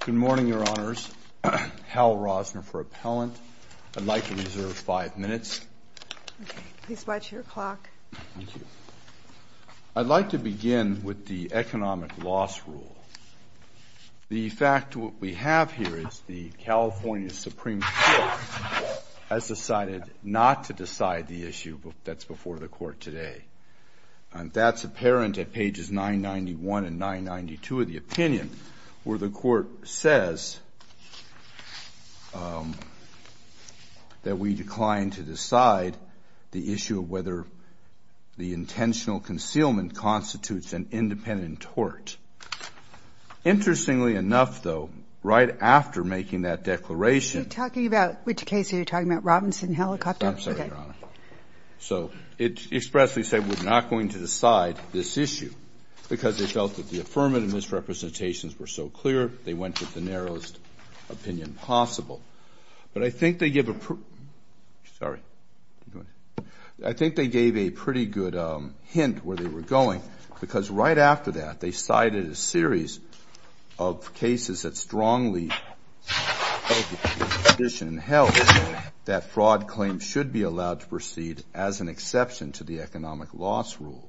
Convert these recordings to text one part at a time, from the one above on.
Good morning, Your Honors. Hal Rosner for Appellant. I'd like to reserve five minutes. Okay. Please watch your clock. Thank you. I'd like to begin with the economic loss rule. The fact that what we have here is the California Supreme Court has decided not to decide the issue that's before the Court today. And that's apparent at pages 991 and 992 of the opinion, where the Court says that we decline to decide the issue of whether the intentional concealment constitutes an independent tort. Interestingly enough, though, right after making that declaration... Are you talking about, which case are you talking about, Robinson Helicopter? I'm sorry, Your Honor. So it expressly said we're not going to decide this issue because they felt that the affirmative misrepresentations were so clear, they went with the narrowest opinion possible. But I think they gave a pretty good hint where they were going. Because right after that, they cited a series of cases that strongly held that fraud claims should be allowed to proceed as an exception to the economic loss rule.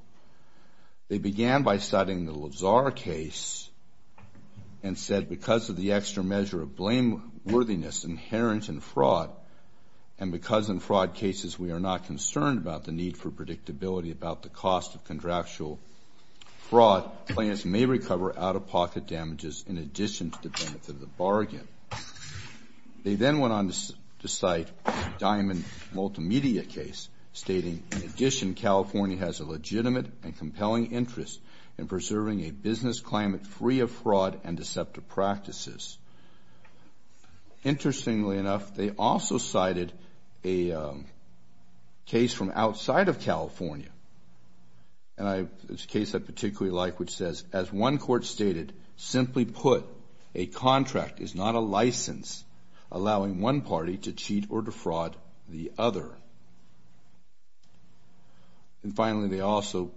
They began by citing the Lazar case and said because of the extra measure of blameworthiness inherent in fraud, and because in fraud cases we are not concerned about the need for predictability about the cost of contractual fraud, clients may recover out-of-pocket damages in addition to the benefit of the bargain. They then went on to cite the Diamond Multimedia case, stating, In addition, California has a legitimate and compelling interest in preserving a business climate free of fraud and deceptive practices. Interestingly enough, they also cited a case from outside of California. And it's a case I particularly like, which says, As one court stated, simply put, a contract is not a license allowing one party to cheat or defraud the other. And finally, they also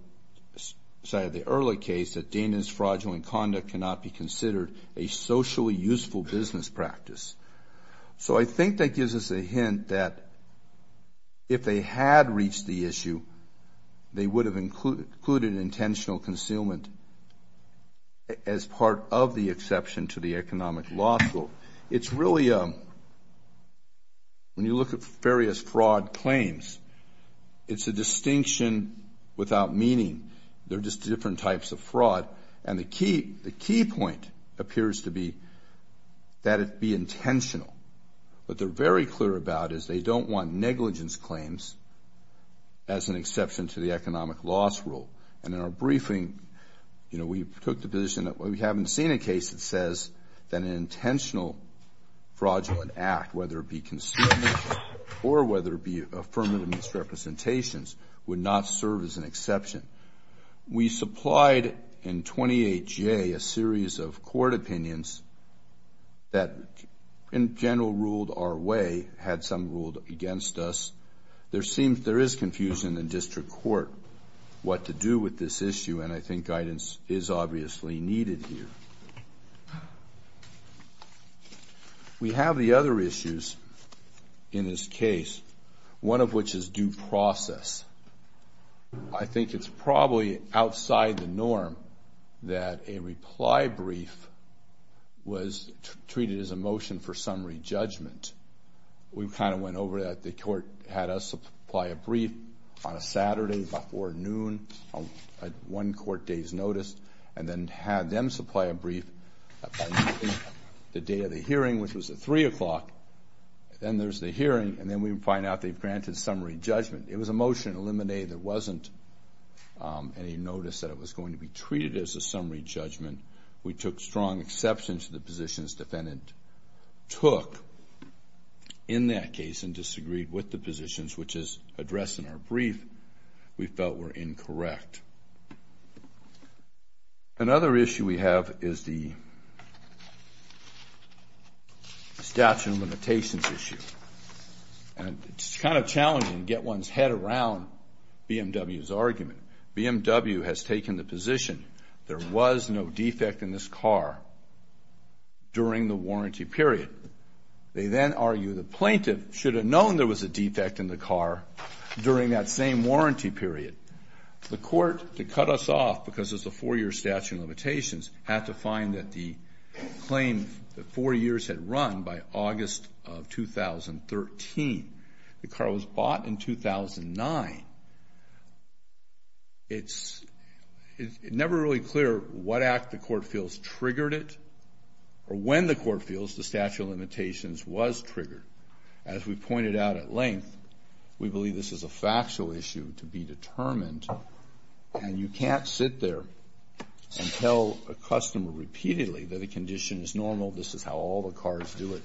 cited the early case that Dana's fraudulent conduct cannot be considered a socially useful business practice. So I think that gives us a hint that if they had reached the issue, they would have included intentional concealment as part of the exception to the economic loss rule. It's really a, when you look at various fraud claims, it's a distinction without meaning. They're just different types of fraud. And the key point appears to be that it be intentional. What they're very clear about is they don't want negligence claims as an exception to the economic loss rule. And in our briefing, you know, we took the position that we haven't seen a case that says that an intentional fraudulent act, whether it be concealment or whether it be affirmative misrepresentations, would not serve as an exception. We supplied in 28J a series of court opinions that, in general, ruled our way, had some ruled against us. There seems, there is confusion in district court what to do with this issue, and I think guidance is obviously needed here. We have the other issues in this case, one of which is due process. I think it's probably outside the norm that a reply brief was treated as a motion for summary judgment. We kind of went over that. The court had us apply a brief on a Saturday before noon at one court day's notice, and then had them supply a brief by the end of the day of the hearing, which was at 3 o'clock. Then there's the hearing, and then we find out they've granted summary judgment. It was a motion, a limine that wasn't any notice that it was going to be treated as a summary judgment. We took strong exception to the positions the defendant took in that case, and disagreed with the positions which is addressed in our brief. We felt were incorrect. Another issue we have is the statute of limitations issue. It's kind of challenging to get one's head around BMW's argument. BMW has taken the position there was no defect in this car during the warranty period. They then argue the plaintiff should have known there was a defect in the car during that same warranty period. The court, to cut us off because it's a four-year statute of limitations, had to find that the claim that four years had run by August of 2013. The car was bought in 2009. It's never really clear what act the court feels triggered it, or when the court feels the statute of limitations was triggered. As we pointed out at length, we believe this is a factual issue to be determined, and you can't sit there and tell a customer repeatedly that a condition is normal, this is how all the cars do it,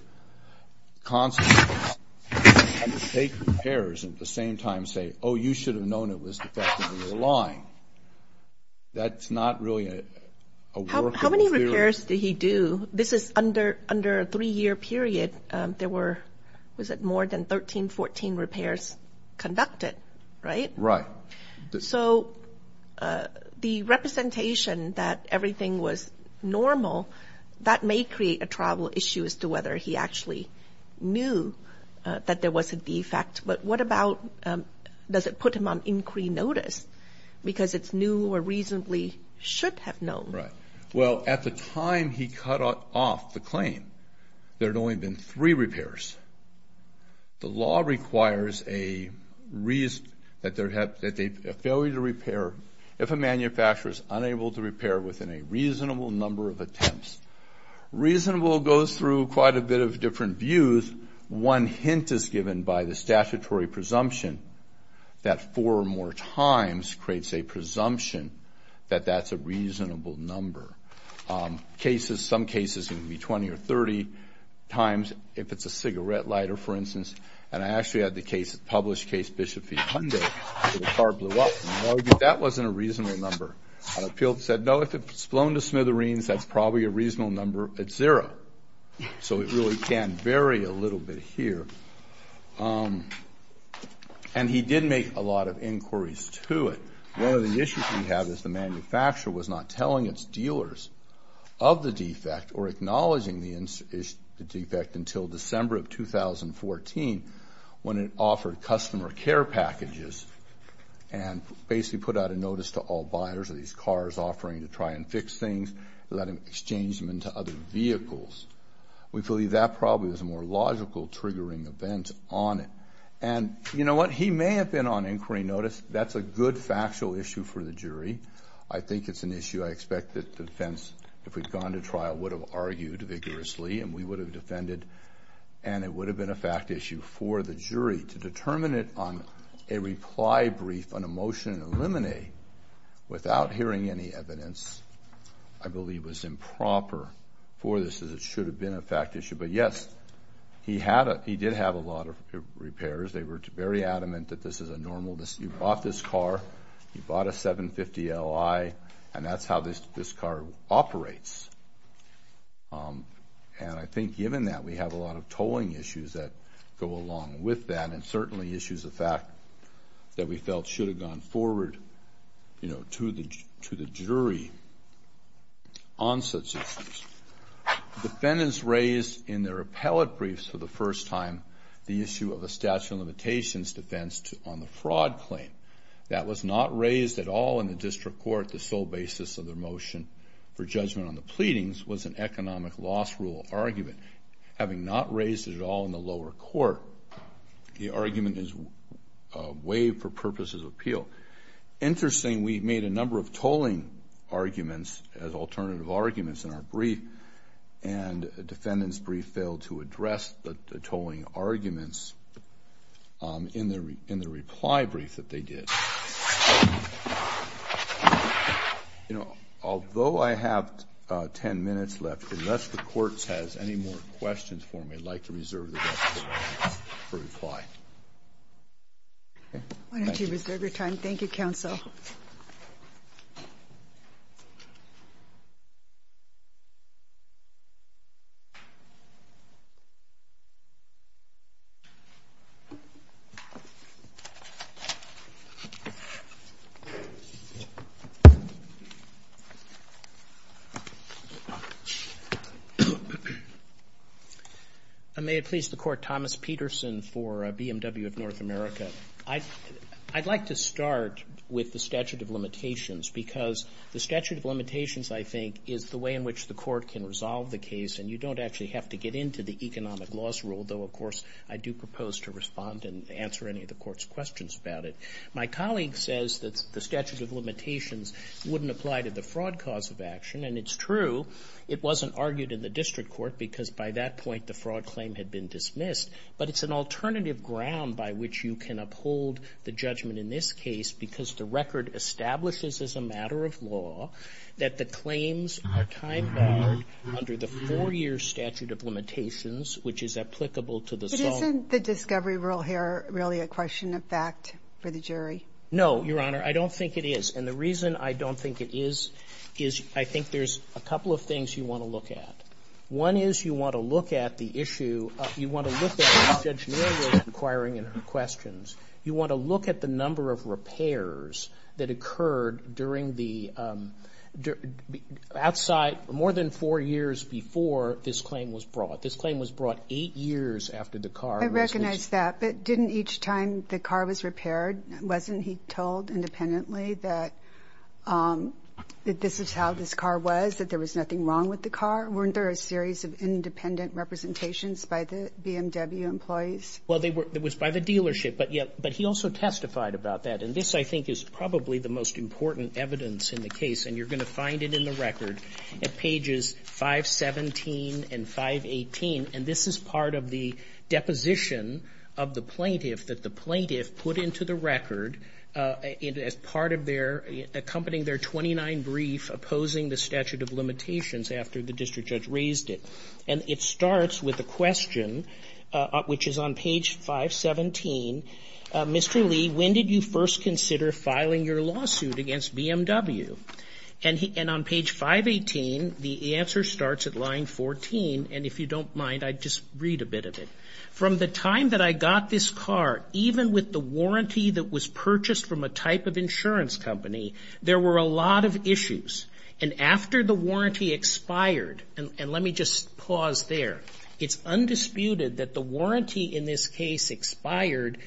constantly, and take repairs, and at the same time say, oh, you should have known it was defective in your line. That's not really a workable theory. How many repairs did he do? This is under a three-year period. There were, was it more than 13, 14 repairs conducted, right? Right. So the representation that everything was normal, that may create a travel issue as to whether he actually knew that there was a defect, but what about does it put him on inquiry notice, because it's new or reasonably should have known. Right. Well, at the time he cut off the claim, there had only been three repairs. The law requires a failure to repair if a manufacturer is unable to repair within a reasonable number of attempts. Reasonable goes through quite a bit of different views. One hint is given by the statutory presumption that four or more times creates a presumption that that's a reasonable number. Some cases it can be 20 or 30 times if it's a cigarette lighter, for instance, and I actually had the published case, Bishop v. Hyundai, where the car blew up, and I argued that wasn't a reasonable number. I appealed and said, no, if it's blown to smithereens, that's probably a reasonable number. It's zero. So it really can vary a little bit here, and he did make a lot of inquiries to it. One of the issues we have is the manufacturer was not telling its dealers of the defect or acknowledging the defect until December of 2014 when it offered customer care packages and basically put out a notice to all buyers of these cars offering to try and fix things, let them exchange them into other vehicles. We believe that probably was a more logical triggering event on it. And you know what? He may have been on inquiry notice. That's a good factual issue for the jury. I think it's an issue I expect the defense, if we'd gone to trial, would have argued vigorously and we would have defended, and it would have been a fact issue for the jury to determine it on a reply brief on a motion and eliminate without hearing any evidence, I believe was improper for this as it should have been a fact issue. But yes, he did have a lot of repairs. They were very adamant that this is a normal. You bought this car. You bought a 750LI, and that's how this car operates. And I think given that, we have a lot of tolling issues that go along with that and certainly issues of fact that we felt should have gone forward to the jury on such issues. Defendants raised in their appellate briefs for the first time the issue of a statute of limitations defense on the fraud claim. That was not raised at all in the district court. The sole basis of their motion for judgment on the pleadings was an economic loss rule argument. Having not raised it at all in the lower court, the argument is waived for purposes of appeal. So interesting, we made a number of tolling arguments as alternative arguments in our brief, and a defendant's brief failed to address the tolling arguments in the reply brief that they did. You know, although I have 10 minutes left, unless the Court has any more questions for me, I'd like to reserve the rest of the time for reply. Why don't you reserve your time? Thank you, counsel. May it please the Court. Thomas Peterson for BMW of North America. I'd like to start with the statute of limitations, because the statute of limitations, I think, is the way in which the Court can resolve the case. And you don't actually have to get into the economic loss rule, though, of course, I do propose to respond and answer any of the Court's questions about it. My colleague says that the statute of limitations wouldn't apply to the fraud cause of action. And it's true. It wasn't argued in the district court, because by that point the fraud claim had been dismissed. But it's an alternative ground by which you can uphold the judgment in this case, because the record establishes as a matter of law that the claims are time-bound under the four-year statute of limitations, which is applicable to the sole. But isn't the discovery rule here really a question of fact for the jury? No, Your Honor, I don't think it is. And the reason I don't think it is, is I think there's a couple of things you want to look at. One is you want to look at the issue. You want to look at, as Judge Mayer was inquiring in her questions, you want to look at the number of repairs that occurred during the outside, more than four years before this claim was brought. This claim was brought eight years after the car. I recognize that, but didn't each time the car was repaired, wasn't he told independently that this is how this car was, that there was nothing wrong with the car? Weren't there a series of independent representations by the BMW employees? Well, it was by the dealership, but he also testified about that. And this, I think, is probably the most important evidence in the case, and you're going to find it in the record at pages 517 and 518. And this is part of the deposition of the plaintiff that the plaintiff put into the record as part of their accompanying their 29 brief opposing the statute of limitations after the district judge raised it. And it starts with a question, which is on page 517, Mr. Lee, when did you first consider filing your lawsuit against BMW? And on page 518, the answer starts at line 14, and if you don't mind, I'd just read a bit of it. From the time that I got this car, even with the warranty that was purchased from a type of insurance company, there were a lot of issues. And after the warranty expired, and let me just pause there, it's undisputed that the warranty in this case expired,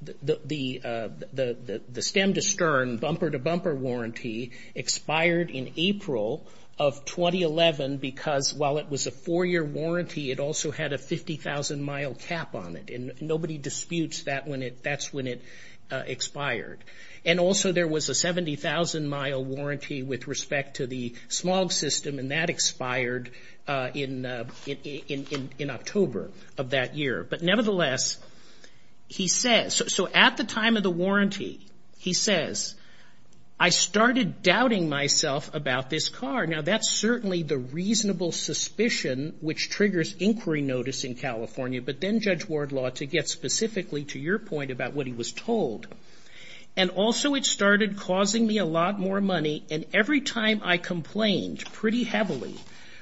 the stem to stern bumper to bumper warranty expired in April of 2011 because while it was a four-year warranty, it also had a 50,000-mile cap on it, and nobody disputes that's when it expired. And also there was a 70,000-mile warranty with respect to the smog system, and that expired in October of that year. But nevertheless, he says, so at the time of the warranty, he says, I started doubting myself about this car. Now, that's certainly the reasonable suspicion which triggers inquiry notice in California, but then Judge Wardlaw, to get specifically to your point about what he was told. And also it started causing me a lot more money, and every time I complained pretty heavily,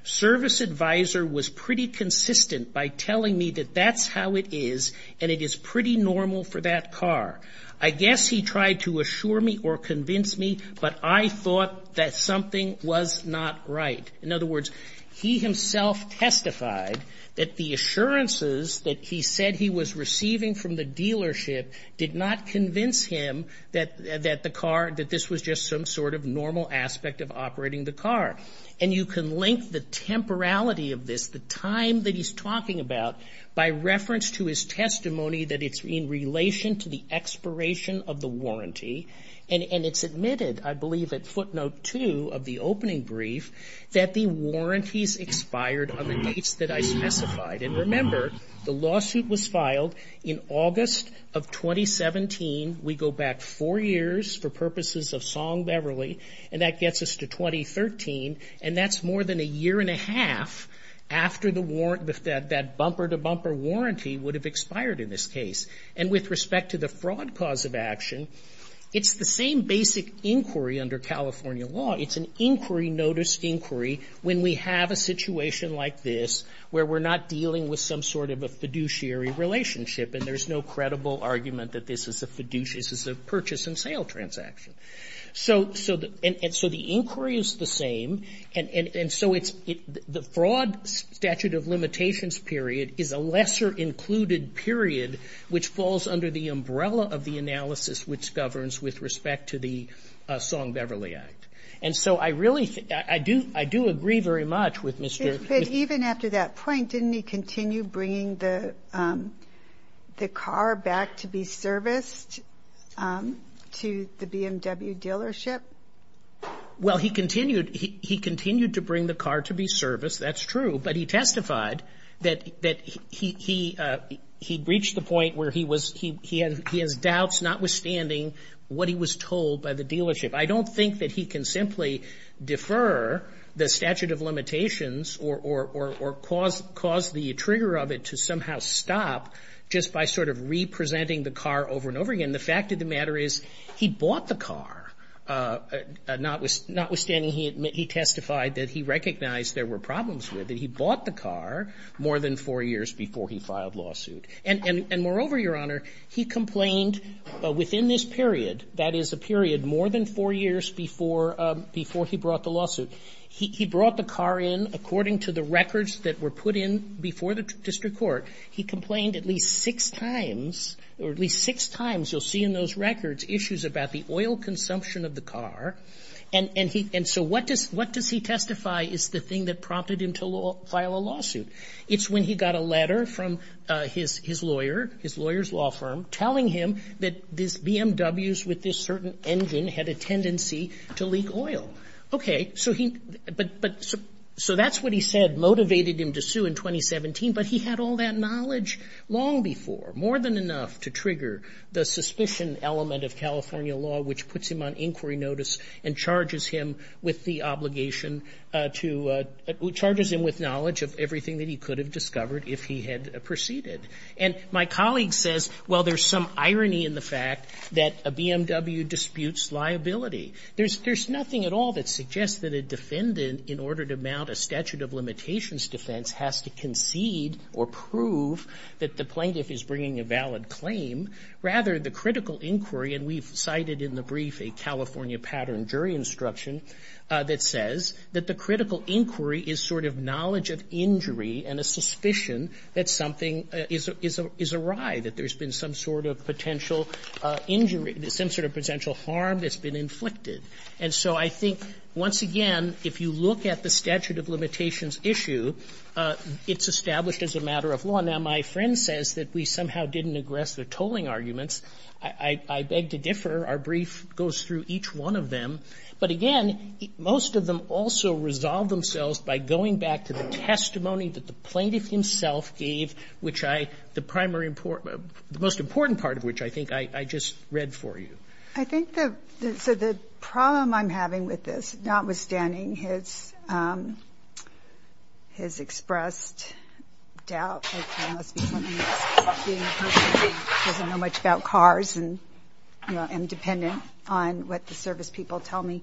service advisor was pretty consistent by telling me that that's how it is and it is pretty normal for that car. I guess he tried to assure me or convince me, but I thought that something was not right. In other words, he himself testified that the assurances that he said he was receiving from the dealership did not convince him that the car, that this was just some sort of normal aspect of operating the car. And you can link the temporality of this, the time that he's talking about, by reference to his testimony that it's in relation to the expiration of the warranty, and it's admitted, I believe, at footnote two of the opening brief, that the warranties expired on the dates that I specified. And remember, the lawsuit was filed in August of 2017. We go back four years for purposes of Song-Beverly, and that gets us to 2013, and that's more than a year and a half after that bumper-to-bumper warranty would have expired in this case. And with respect to the fraud cause of action, it's the same basic inquiry under California law. It's an inquiry notice inquiry when we have a situation like this where we're not dealing with some sort of a fiduciary relationship, and there's no credible argument that this is a purchase and sale transaction. So the inquiry is the same, and so it's the fraud statute of limitations period is a lesser included period which falls under the umbrella of the analysis which governs with respect to the Song-Beverly Act. And so I really think that I do agree very much with Mr. But even after that point, didn't he continue bringing the car back to be serviced to the BMW dealership? Well, he continued to bring the car to be serviced, that's true, but he testified that he'd reached the point where he has doubts notwithstanding what he was told by the dealership. I don't think that he can simply defer the statute of limitations or cause the trigger of it to somehow stop just by sort of re-presenting the car over and over again. The fact of the matter is he bought the car, notwithstanding he testified that he recognized there were problems with it. He bought the car more than four years before he filed lawsuit. And moreover, Your Honor, he complained within this period, that is a period more than four years before he brought the lawsuit. He brought the car in according to the records that were put in before the district court. He complained at least six times, or at least six times, you'll see in those records issues about the oil consumption of the car. And so what does he testify is the thing that prompted him to file a lawsuit? It's when he got a letter from his lawyer, his lawyer's law firm, telling him that these BMWs with this certain engine had a tendency to leak oil. Okay, so that's what he said motivated him to sue in 2017, but he had all that knowledge long before, more than enough to trigger the suspicion element of California law, which puts him on inquiry notice and charges him with the obligation to, charges him with knowledge of everything that he could have discovered if he had proceeded. And my colleague says, well, there's some irony in the fact that a BMW disputes liability. There's nothing at all that suggests that a defendant, in order to mount a statute of limitations defense, has to concede or prove that the plaintiff is bringing a valid claim. Rather, the critical inquiry, and we've cited in the brief a California pattern of jury instruction that says that the critical inquiry is sort of knowledge of injury and a suspicion that something is a riot, that there's been some sort of potential injury, some sort of potential harm that's been inflicted. And so I think, once again, if you look at the statute of limitations issue, it's established as a matter of law. Now, my friend says that we somehow didn't aggress the tolling arguments. I beg to differ. Our brief goes through each one of them. But, again, most of them also resolve themselves by going back to the testimony that the plaintiff himself gave, which I, the primary important, the most important part of which I think I just read for you. I think the, so the problem I'm having with this, notwithstanding his, his expressed doubt that, you know, he doesn't know much about cars and, you know, I'm dependent on what the service people tell me.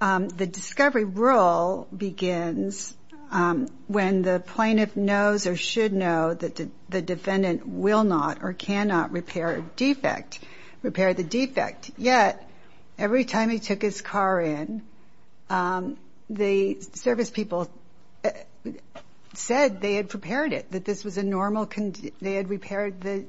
The discovery rule begins when the plaintiff knows or should know that the defendant will not or cannot repair a defect, repair the defect. Yet, every time he took his car in, the service people said they had prepared it, that this was a normal, they had repaired the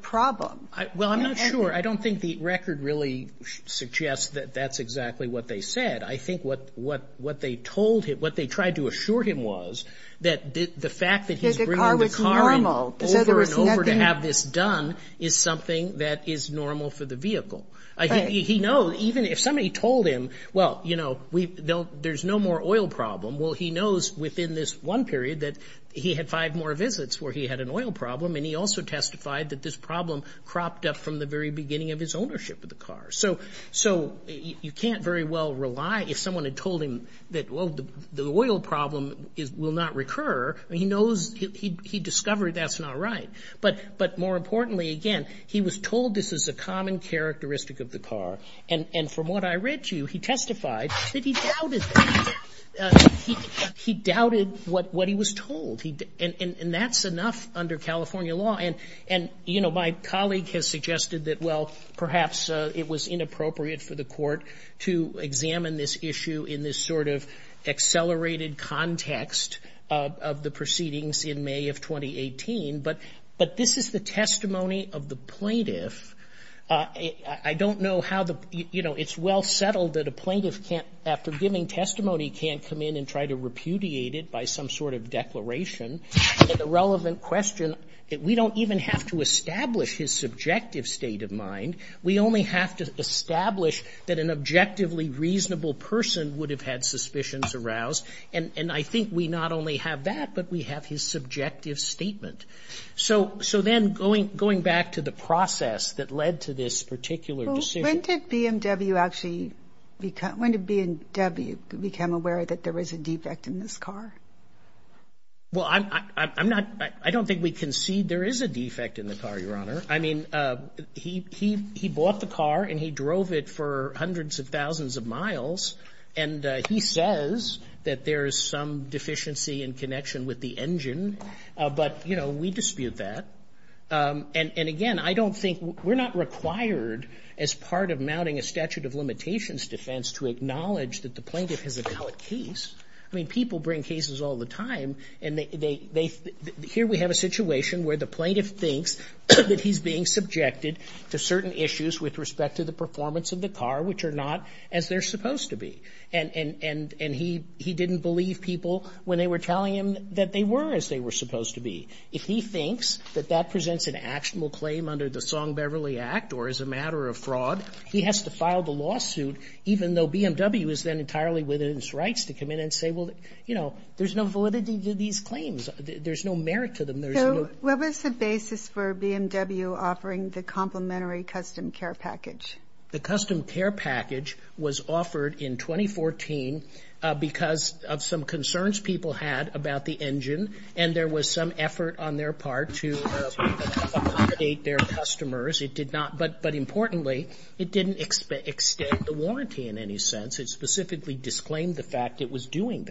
problem. Well, I'm not sure. I don't think the record really suggests that that's exactly what they said. I think what they told him, what they tried to assure him was that the fact that he's bringing the car in over and over to have this done is something that is normal for the vehicle. He knows, even if somebody told him, well, you know, we don't, there's no more oil problem. Well, he knows within this one period that he had five more visits where he had an oil problem and he also testified that this problem cropped up from the very beginning of his ownership of the car. So you can't very well rely, if someone had told him that, well, the oil problem will not recur, he knows, he discovered that's not right. But more importantly, again, he was told this is a common characteristic of the car. And from what I read to you, he testified that he doubted that. He doubted what he was told. And that's enough under California law. And, you know, my colleague has suggested that, well, perhaps it was inappropriate for the court to examine this issue in this sort of accelerated context of the proceedings in May of 2018. But this is the testimony of the plaintiff. I don't know how the, you know, it's well settled that a plaintiff can't, after giving testimony, can't come in and try to repudiate it by some sort of declaration. The relevant question, we don't even have to establish his subjective state of mind. We only have to establish that an objectively reasonable person would have had suspicions aroused. And I think we not only have that, but we have his subjective statement. So then going back to the process that led to this particular decision. When did BMW actually become, when did BMW become aware that there was a defect in this car? Well, I'm not, I don't think we concede there is a defect in the car, Your Honor. I mean, he bought the car and he drove it for hundreds of thousands of miles. And he says that there is some deficiency in connection with the engine. But, you know, we dispute that. And again, I don't think, we're not required as part of mounting a statute of limitations defense to acknowledge that the plaintiff has a valid case. I mean, people bring cases all the time. And they, here we have a situation where the plaintiff thinks that he's being subjected to certain issues with respect to the performance of the car, which are not as they're supposed to be. And he didn't believe people when they were telling him that they were as they were supposed to be. If he thinks that that presents an actionable claim under the Song-Beverly Act or as a matter of fraud, he has to file the lawsuit even though BMW is then entirely within its rights to come in and say, well, you know, there's no validity to these claims. There's no merit to them. There's no... So, what was the basis for BMW offering the complementary custom care package? The custom care package was offered in 2014 because of some concerns people had about the engine and there was some effort on their part to accommodate their customers. It did not, but importantly, it didn't extend the warranty in any sense. It specifically disclaimed the fact it was doing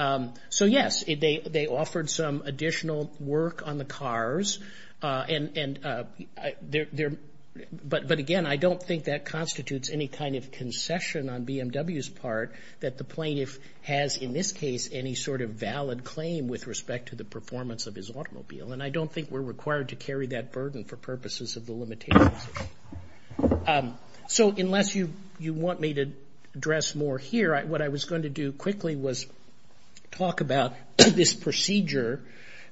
that. So, yes, they offered some additional work on the cars. And there, but again, I don't think that constitutes any kind of concession on BMW's part that the plaintiff has, in this case, any sort of valid claim with respect to the performance of his automobile. And I don't think we're required to carry that burden for purposes of the limitations. So, unless you want me to address more here, what I was going to do quickly was talk about this procedure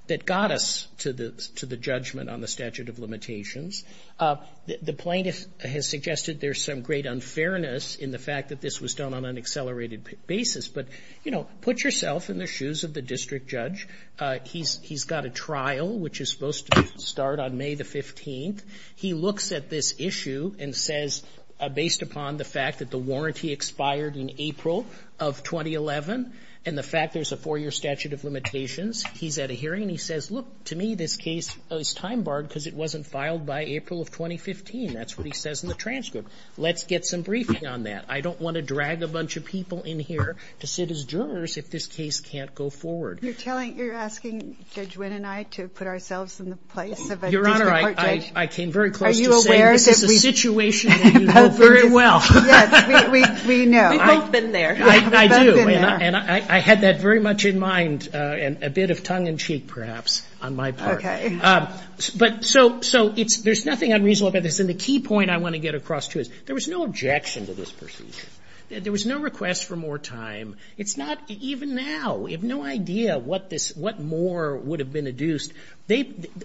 that got us to the judgment on the statute of limitations. The plaintiff has suggested there's some great unfairness in the fact that this was done on an accelerated basis. But, you know, put yourself in the shoes of the district judge. He's got a trial, which is supposed to start on May the 15th. He looks at this issue and says, based upon the fact that the warranty expired in April of 2011 and the fact there's a four-year statute of limitations, he's at a hearing and he says, look, to me, this case is time-barred because it wasn't filed by April of 2015. That's what he says in the transcript. Let's get some briefing on that. I don't want to drag a bunch of people in here to sit as jurors if this case can't go forward. You're asking Judge Wynn and I to put ourselves in the place of a district court judge? Your Honor, I came very close to saying this is a situation that you know very well. Yes, we know. We've both been there. I do. And I had that very much in mind and a bit of tongue-in-cheek, perhaps, on my part. Okay. But so there's nothing unreasonable about this. And the key point I want to get across to you is there was no objection to this procedure. There was no request for more time. It's not even now. We have no idea what more would have been adduced. They,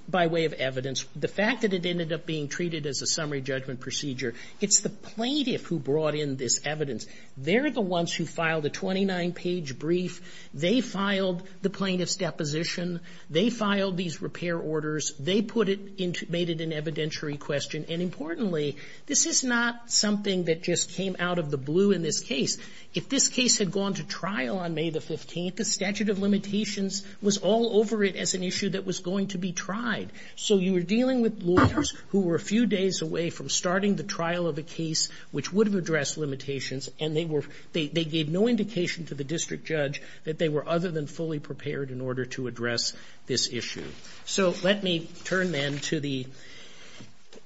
by way of evidence, the fact that it ended up being treated as a summary judgment procedure, it's the plaintiff who brought in this evidence. They're the ones who filed a 29-page brief. They filed the plaintiff's deposition. They filed these repair orders. They made it an evidentiary question. And importantly, this is not something that just came out of the blue in this case. If this case had gone to trial on May the 15th, the statute of limitations was all over it as an issue that was going to be tried. So you were dealing with lawyers who were a few days away from starting the trial of a case which would have addressed limitations, and they gave no indication to the district judge that they were other than fully prepared in order to address this issue. So let me turn then to the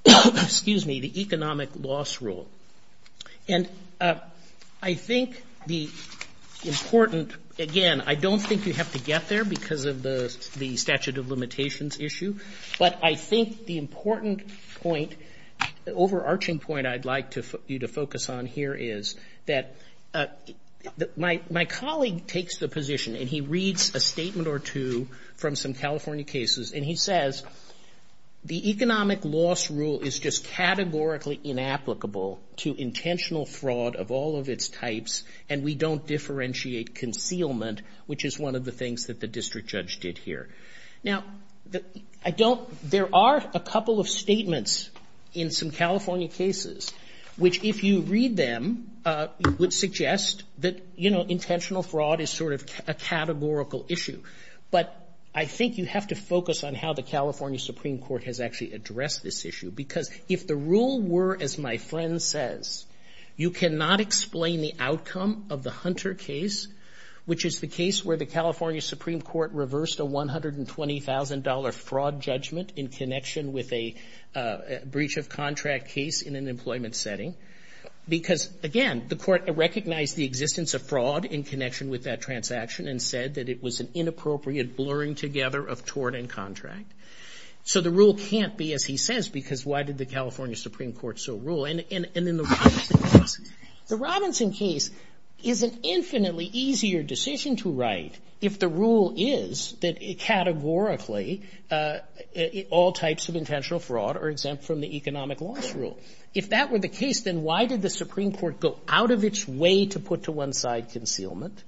economic loss rule. And I think the important, again, I don't think you have to get there because of the statute of limitations issue, but I think the important point, overarching point I'd like you to focus on here is that my colleague takes the position, and he reads a statement or two from some California cases, and he says the economic loss rule is just categorically inapplicable to intentional fraud of all of its types, and we don't differentiate concealment, which is one of the things that the district judge did here. Now, I don't ‑‑ there are a couple of statements in some California cases which, if you read them, would suggest that, you know, intentional fraud is sort of a categorical issue. But I think you have to focus on how the California Supreme Court has actually addressed this issue because if the rule were, as my friend says, you cannot explain the outcome of the Hunter case, which is the case where the California Supreme Court reversed a $120,000 fraud judgment in connection with a breach of contract case in an employment setting because, again, the court recognized the existence of fraud in connection with that transaction and said that it was an inappropriate blurring together of tort and contract. So the rule can't be, as he says, because why did the California Supreme Court so rule? And in the Robinson case, the Robinson case is an infinitely easier decision to write if the rule is that categorically all types of intentional fraud are exempt from the economic loss rule. If that were the case, then why did the Supreme Court go out of its way to put to one side concealment,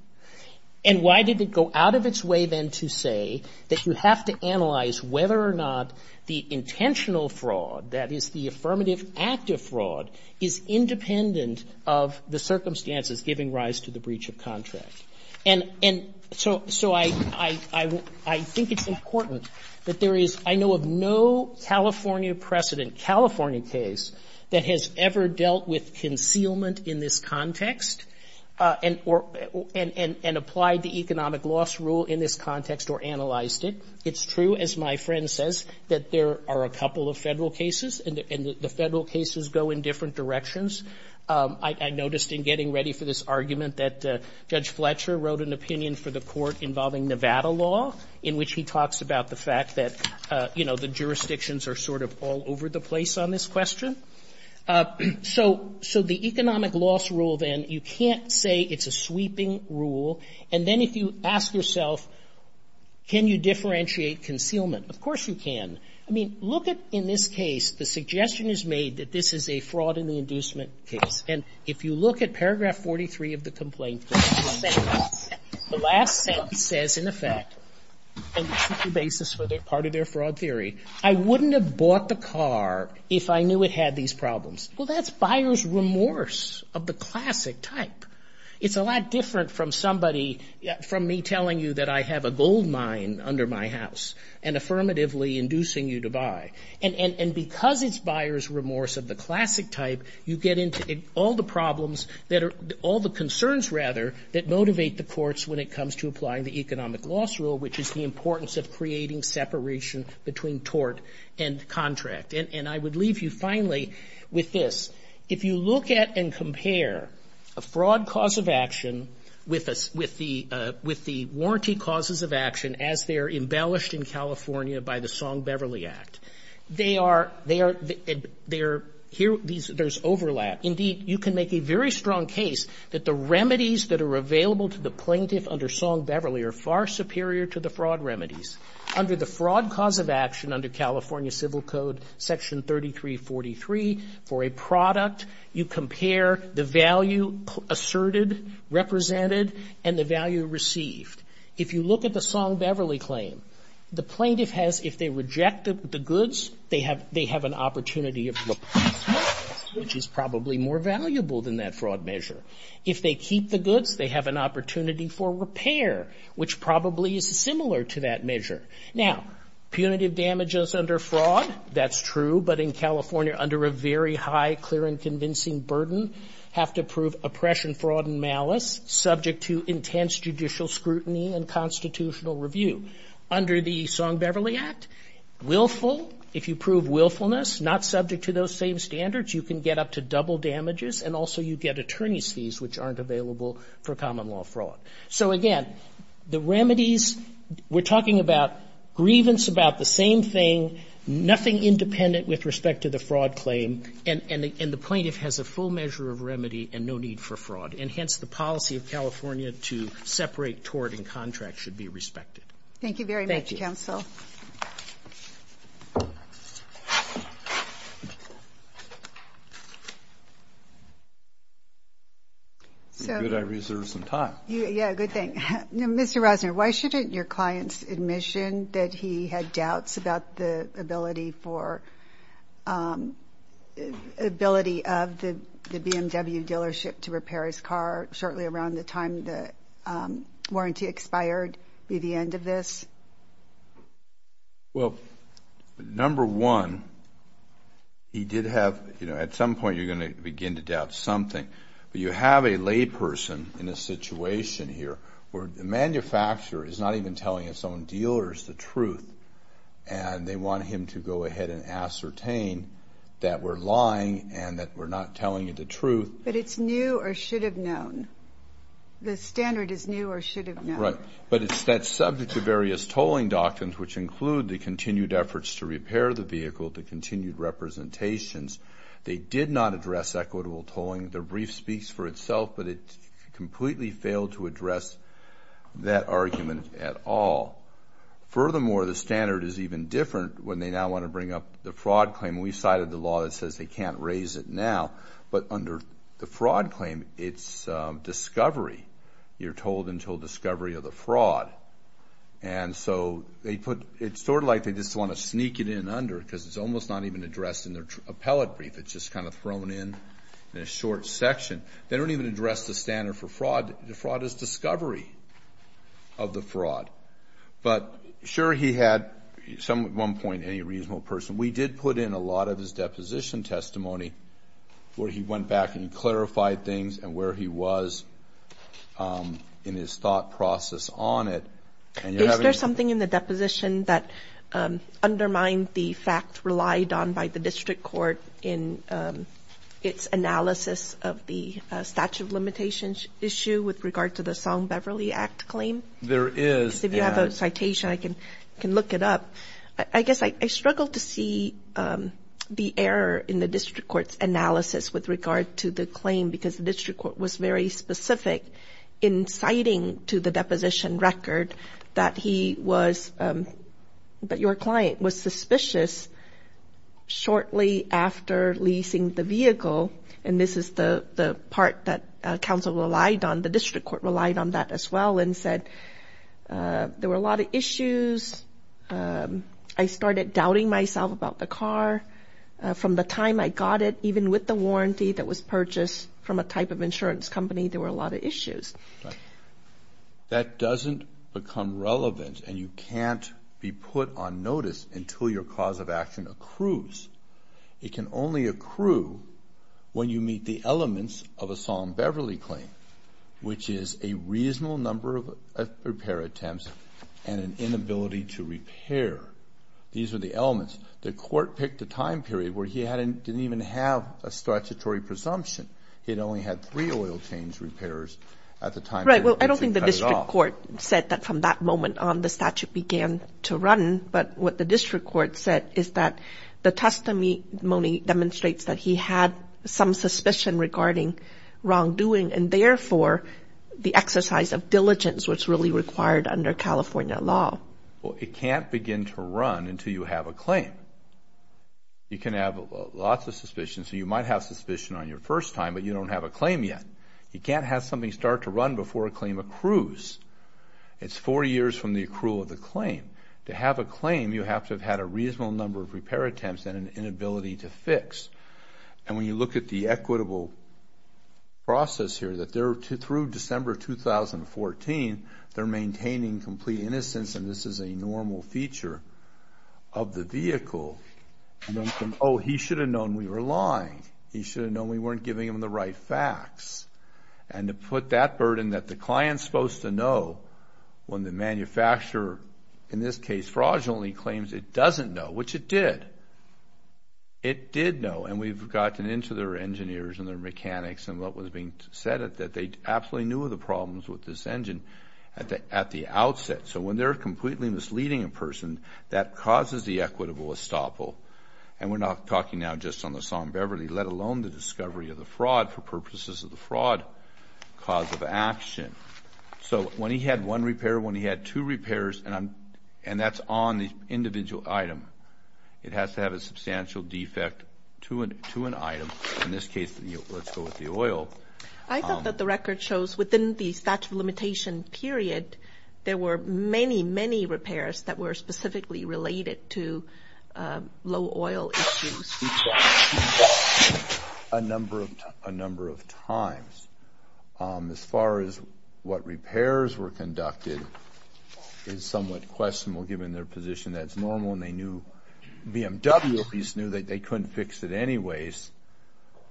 and why did it go out of its way then to say that you have to analyze whether or not the intentional fraud, that is the affirmative active fraud, is independent of the circumstances giving rise to the breach of contract? And so I think it's important that there is, I know of no California precedent, California case that has ever dealt with concealment in this context and applied the economic loss rule in this context or analyzed it. It's true, as my friend says, that there are a couple of Federal cases, and the Federal cases go in different directions. I noticed in getting ready for this argument that Judge Fletcher wrote an opinion for the court involving Nevada law in which he talks about the fact that, you know, the jurisdictions are sort of all over the place on this question. So the economic loss rule, then, you can't say it's a sweeping rule. And then if you ask yourself, can you differentiate concealment? Of course you can. I mean, look at, in this case, the suggestion is made that this is a fraud in the inducement case. And if you look at paragraph 43 of the complaint, the last sentence says, in effect, and the basis for part of their fraud theory, I wouldn't have bought the car if I knew it had these problems. Well, that's buyer's remorse of the classic type. It's a lot different from somebody, from me telling you that I have a gold mine under my house and affirmatively inducing you to buy. And because it's buyer's remorse of the classic type, you get into all the problems that are, all the concerns, rather, that motivate the courts when it comes to applying the economic loss rule, which is the importance of creating separation between tort and contract. And I would leave you, finally, with this. If you look at and compare a fraud cause of action with the warranty causes of action as they are embellished in California by the Song-Beverly Act, they are, they are, there's overlap. Indeed, you can make a very strong case that the remedies that are available to the plaintiff under Song-Beverly are far superior to the fraud remedies. Under the fraud cause of action under California Civil Code Section 3343 for a product, you compare the value asserted, represented, and the value received. If you look at the Song-Beverly claim, the plaintiff has, if they reject the goods, they have an opportunity of replacement, which is probably more valuable than that fraud measure. If they keep the goods, they have an opportunity for repair, which probably is similar to that measure. Now, punitive damages under fraud, that's true. But in California, under a very high clear and convincing burden, have to prove oppression, fraud, and malice subject to intense judicial scrutiny and constitutional review. Under the Song-Beverly Act, willful, if you prove willfulness, not subject to those same standards, you can get up to double damages, and also you get attorney's fees, which aren't available for common law fraud. So, again, the remedies, we're talking about grievance about the same thing, nothing independent with respect to the fraud claim, and the plaintiff has a full measure of remedy and no need for fraud. And hence, the policy of California to separate tort and contract should be respected. Thank you. Good, I reserved some time. Yeah, good thing. Mr. Rosner, why shouldn't your client's admission that he had doubts about the ability of the BMW dealership to repair his car shortly around the time the warranty expired be the end of this? Well, number one, he did have, you know, at some point you're going to begin to doubt something. But you have a layperson in a situation here where the manufacturer is not even telling his own dealers the truth, and they want him to go ahead and ascertain that we're lying and that we're not telling you the truth. But it's new or should have known. The standard is new or should have known. Right, but it's that subject to various tolling doctrines, which include the continued efforts to repair the vehicle, the continued representations. They did not address equitable tolling. The brief speaks for itself, but it completely failed to address that argument at all. Furthermore, the standard is even different when they now want to bring up the fraud claim. We've cited the law that says they can't raise it now. But under the fraud claim, it's discovery. You're told until discovery of the fraud. And so it's sort of like they just want to sneak it in under because it's almost not even addressed in their appellate brief. It's just kind of thrown in in a short section. They don't even address the standard for fraud. The fraud is discovery of the fraud. But, sure, he had at one point any reasonable person. We did put in a lot of his deposition testimony where he went back and clarified things and where he was in his thought process on it. Is there something in the deposition that undermined the fact relied on by the district court in its analysis of the statute of limitations issue with regard to the Song-Beverly Act claim? There is. If you have a citation, I can look it up. I guess I struggle to see the error in the district court's analysis with regard to the claim because the district court was very specific in citing to the deposition record that he was, that your client was suspicious shortly after leasing the vehicle. And this is the part that counsel relied on. The district court relied on that as well and said there were a lot of issues. I started doubting myself about the car. From the time I got it, even with the warranty that was purchased from a type of insurance company, there were a lot of issues. That doesn't become relevant and you can't be put on notice until your cause of action accrues. It can only accrue when you meet the elements of a Song-Beverly claim, which is a reasonable number of repair attempts and an inability to repair. These are the elements. The court picked a time period where he didn't even have a statutory presumption. He had only had three oil change repairs at the time. Right. Well, I don't think the district court said that from that moment on the statute began to run, but what the district court said is that the testimony demonstrates that he had some suspicion regarding wrongdoing and, therefore, the exercise of diligence was really required under California law. Well, it can't begin to run until you have a claim. You can have lots of suspicions. You might have suspicion on your first time, but you don't have a claim yet. You can't have something start to run before a claim accrues. It's 40 years from the accrual of the claim. To have a claim, you have to have had a reasonable number of repair attempts and an inability to fix. When you look at the equitable process here, through December 2014, they're maintaining complete innocence, and this is a normal feature of the vehicle. Oh, he should have known we were lying. He should have known we weren't giving him the right facts. And to put that burden that the client's supposed to know when the manufacturer, in this case fraudulently, claims it doesn't know, which it did. It did know, and we've gotten into their engineers and their mechanics and what was being said, that they absolutely knew of the problems with this engine at the outset. So when they're completely misleading a person, that causes the equitable estoppel, and we're not talking now just on the Song-Beverly, let alone the discovery of the fraud, for purposes of the fraud cause of action. So when he had one repair, when he had two repairs, and that's on the individual item, it has to have a substantial defect to an item, in this case, let's go with the oil. I thought that the record shows within the statute of limitation period, there were many, many repairs that were specifically related to low oil issues. A number of times. As far as what repairs were conducted is somewhat questionable, given their position that it's normal, and they knew BMW at least knew that they couldn't fix it anyways.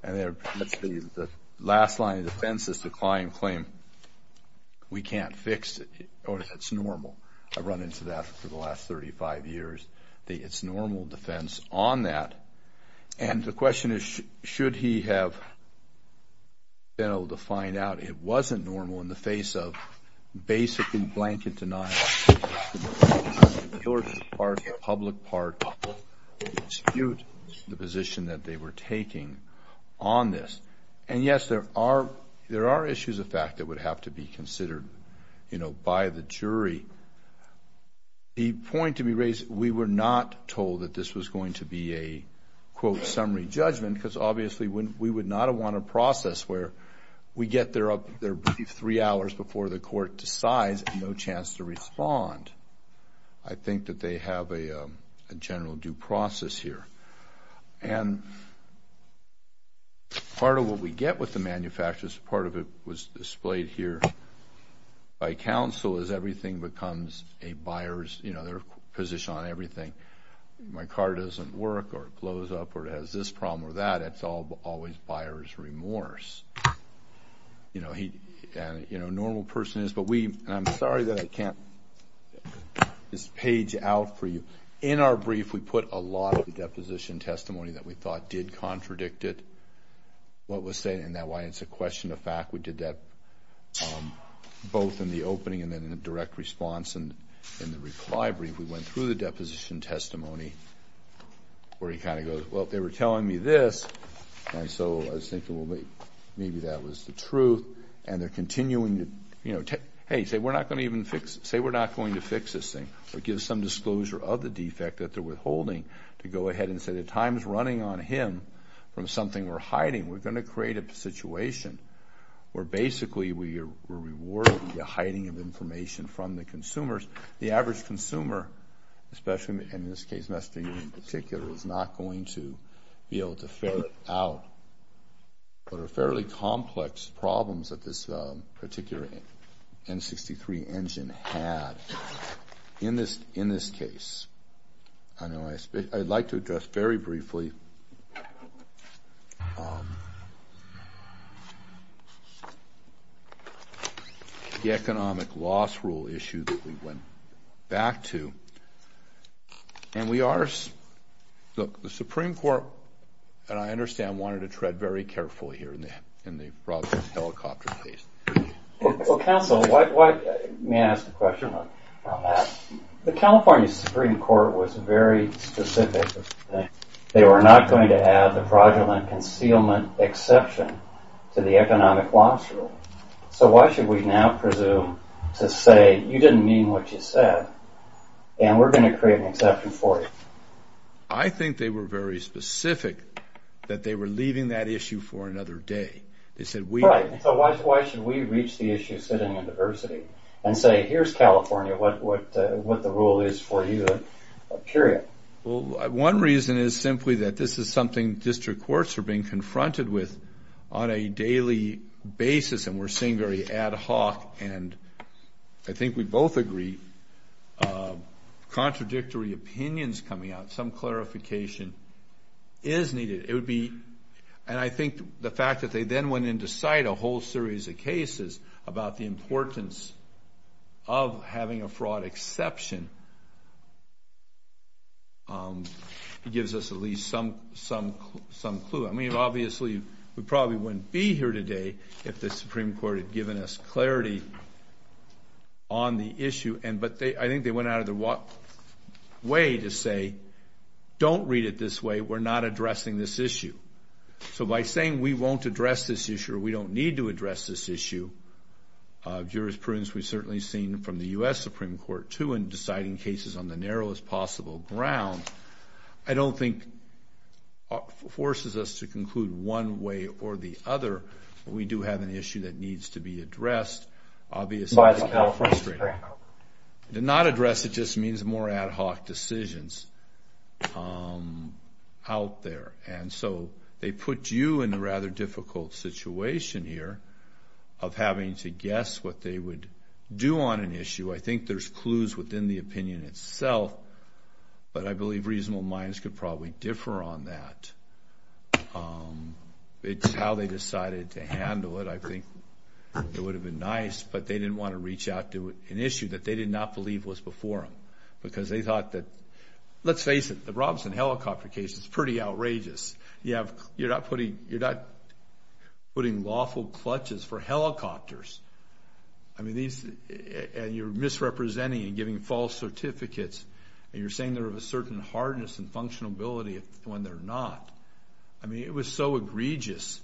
The last line of defense is the client claim, we can't fix it, or it's normal. I've run into that for the last 35 years. It's normal defense on that, and the question is, should he have been able to find out it wasn't normal in the face of basically blanket denial? The public part of the dispute, the position that they were taking on this, and yes, there are issues of fact that would have to be considered by the jury. The point to be raised, we were not told that this was going to be a, quote, summary judgment, because obviously we would not have won a process where we get their brief three hours before the court decides and no chance to respond. I think that they have a general due process here. And part of what we get with the manufacturers, part of it was displayed here by counsel, is everything becomes a buyer's position on everything. My car doesn't work or it blows up or it has this problem or that. It's always buyer's remorse. You know, a normal person is, but we, and I'm sorry that I can't just page out for you. In our brief, we put a lot of the deposition testimony that we thought did contradict it, what was said in that, why it's a question of fact. We did that both in the opening and then in the direct response. And in the reply brief, we went through the deposition testimony where he kind of goes, well, they were telling me this, and so I was thinking, well, maybe that was the truth. And they're continuing to, you know, hey, say we're not going to even fix it. Say we're not going to fix this thing. So it gives some disclosure of the defect that they're withholding to go ahead and say the time is running on him from something we're hiding. We're going to create a situation where basically we're rewarding the hiding of information from the consumers. The average consumer, especially in this case, Mustang in particular, is not going to be able to figure out what are fairly complex problems that this particular N63 engine had in this case. I'd like to address very briefly the economic loss rule issue that we went back to. And we are – look, the Supreme Court, I understand, wanted to tread very carefully here and they brought the helicopter case. Well, counsel, may I ask a question on that? The California Supreme Court was very specific. They were not going to add the fraudulent concealment exception to the economic loss rule. So why should we now presume to say you didn't mean what you said and we're going to create an exception for you? I think they were very specific that they were leaving that issue for another day. So why should we reach the issue sitting in diversity and say, here's California, what the rule is for you, period? Well, one reason is simply that this is something district courts are being confronted with on a daily basis and we're seeing very ad hoc and I think we both agree, contradictory opinions coming out. Some clarification is needed. And I think the fact that they then went in to cite a whole series of cases about the importance of having a fraud exception gives us at least some clue. I mean, obviously, we probably wouldn't be here today if the Supreme Court had given us clarity on the issue. But I think they went out of their way to say, don't read it this way. We're not addressing this issue. So by saying we won't address this issue or we don't need to address this issue, jurisprudence we've certainly seen from the U.S. Supreme Court, too, in deciding cases on the narrowest possible ground, I don't think forces us to conclude one way or the other. We do have an issue that needs to be addressed. By the California Supreme Court. To not address it just means more ad hoc decisions out there. And so they put you in a rather difficult situation here of having to guess what they would do on an issue. I think there's clues within the opinion itself, but I believe reasonable minds could probably differ on that. It's how they decided to handle it. I think it would have been nice, but they didn't want to reach out to an issue that they did not believe was before them. Because they thought that, let's face it, the Robinson helicopter case is pretty outrageous. You're not putting lawful clutches for helicopters. And you're misrepresenting and giving false certificates. And you're saying they're of a certain hardness and functionality when they're not. I mean, it was so egregious.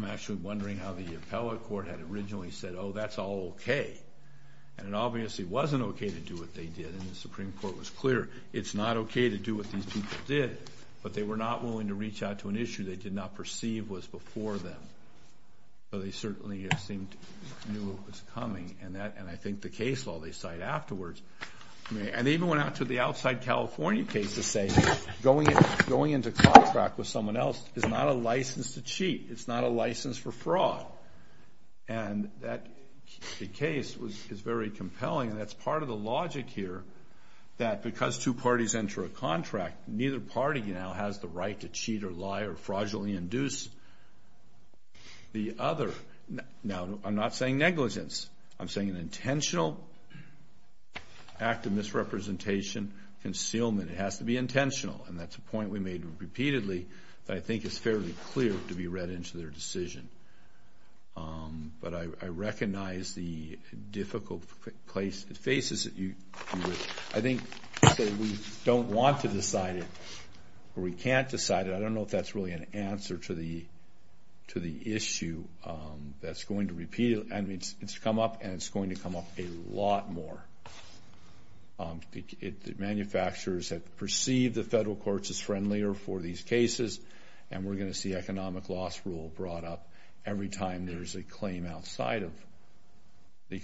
I'm actually wondering how the appellate court had originally said, oh, that's all okay. And it obviously wasn't okay to do what they did. And the Supreme Court was clear, it's not okay to do what these people did. But they were not willing to reach out to an issue they did not perceive was before them. So they certainly seemed to know it was coming. And I think the case law they cite afterwards. And they even went out to the outside California case to say going into contract with someone else is not a license to cheat. It's not a license for fraud. And that case is very compelling. And that's part of the logic here, that because two parties enter a contract, neither party now has the right to cheat or lie or fraudulently induce the other. Now, I'm not saying negligence. I'm saying an intentional act of misrepresentation, concealment. It has to be intentional. And that's a point we made repeatedly that I think is fairly clear to be read into their decision. But I recognize the difficult faces that you would, I think, say we don't want to decide it or we can't decide it. I don't know if that's really an answer to the issue that's going to repeat. It's come up and it's going to come up a lot more. Manufacturers have perceived the federal courts as friendlier for these cases. And we're going to see economic loss rule brought up every time there's a claim outside of the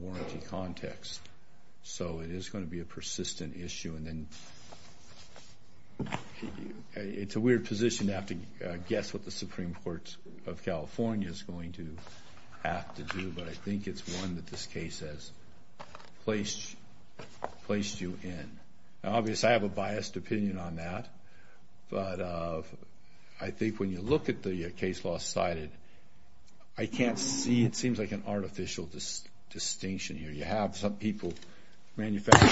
warranty context. So it is going to be a persistent issue. And then it's a weird position to have to guess what the Supreme Court of California is going to have to do. But I think it's one that this case has placed you in. Now, obviously, I have a biased opinion on that. But I think when you look at the case law cited, I can't see it seems like an artificial distinction here. You have some people manufacturing,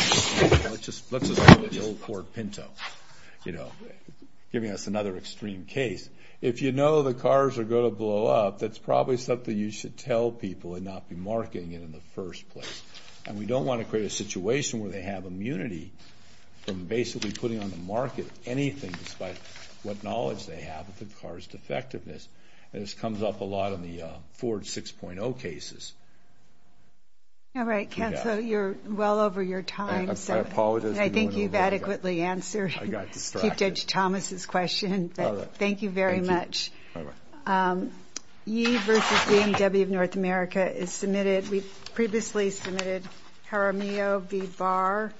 let's just call it the old Ford Pinto, you know, giving us another extreme case. If you know the cars are going to blow up, that's probably something you should tell people and not be marketing it in the first place. And we don't want to create a situation where they have immunity from basically putting on the market anything, despite what knowledge they have of the car's defectiveness. And this comes up a lot on the Ford 6.0 cases. All right, counsel. You're well over your time. I apologize. I think you've adequately answered Chief Judge Thomas's question. Thank you very much. Ye versus BMW of North America is submitted. We've previously submitted Jaramillo v. Barr.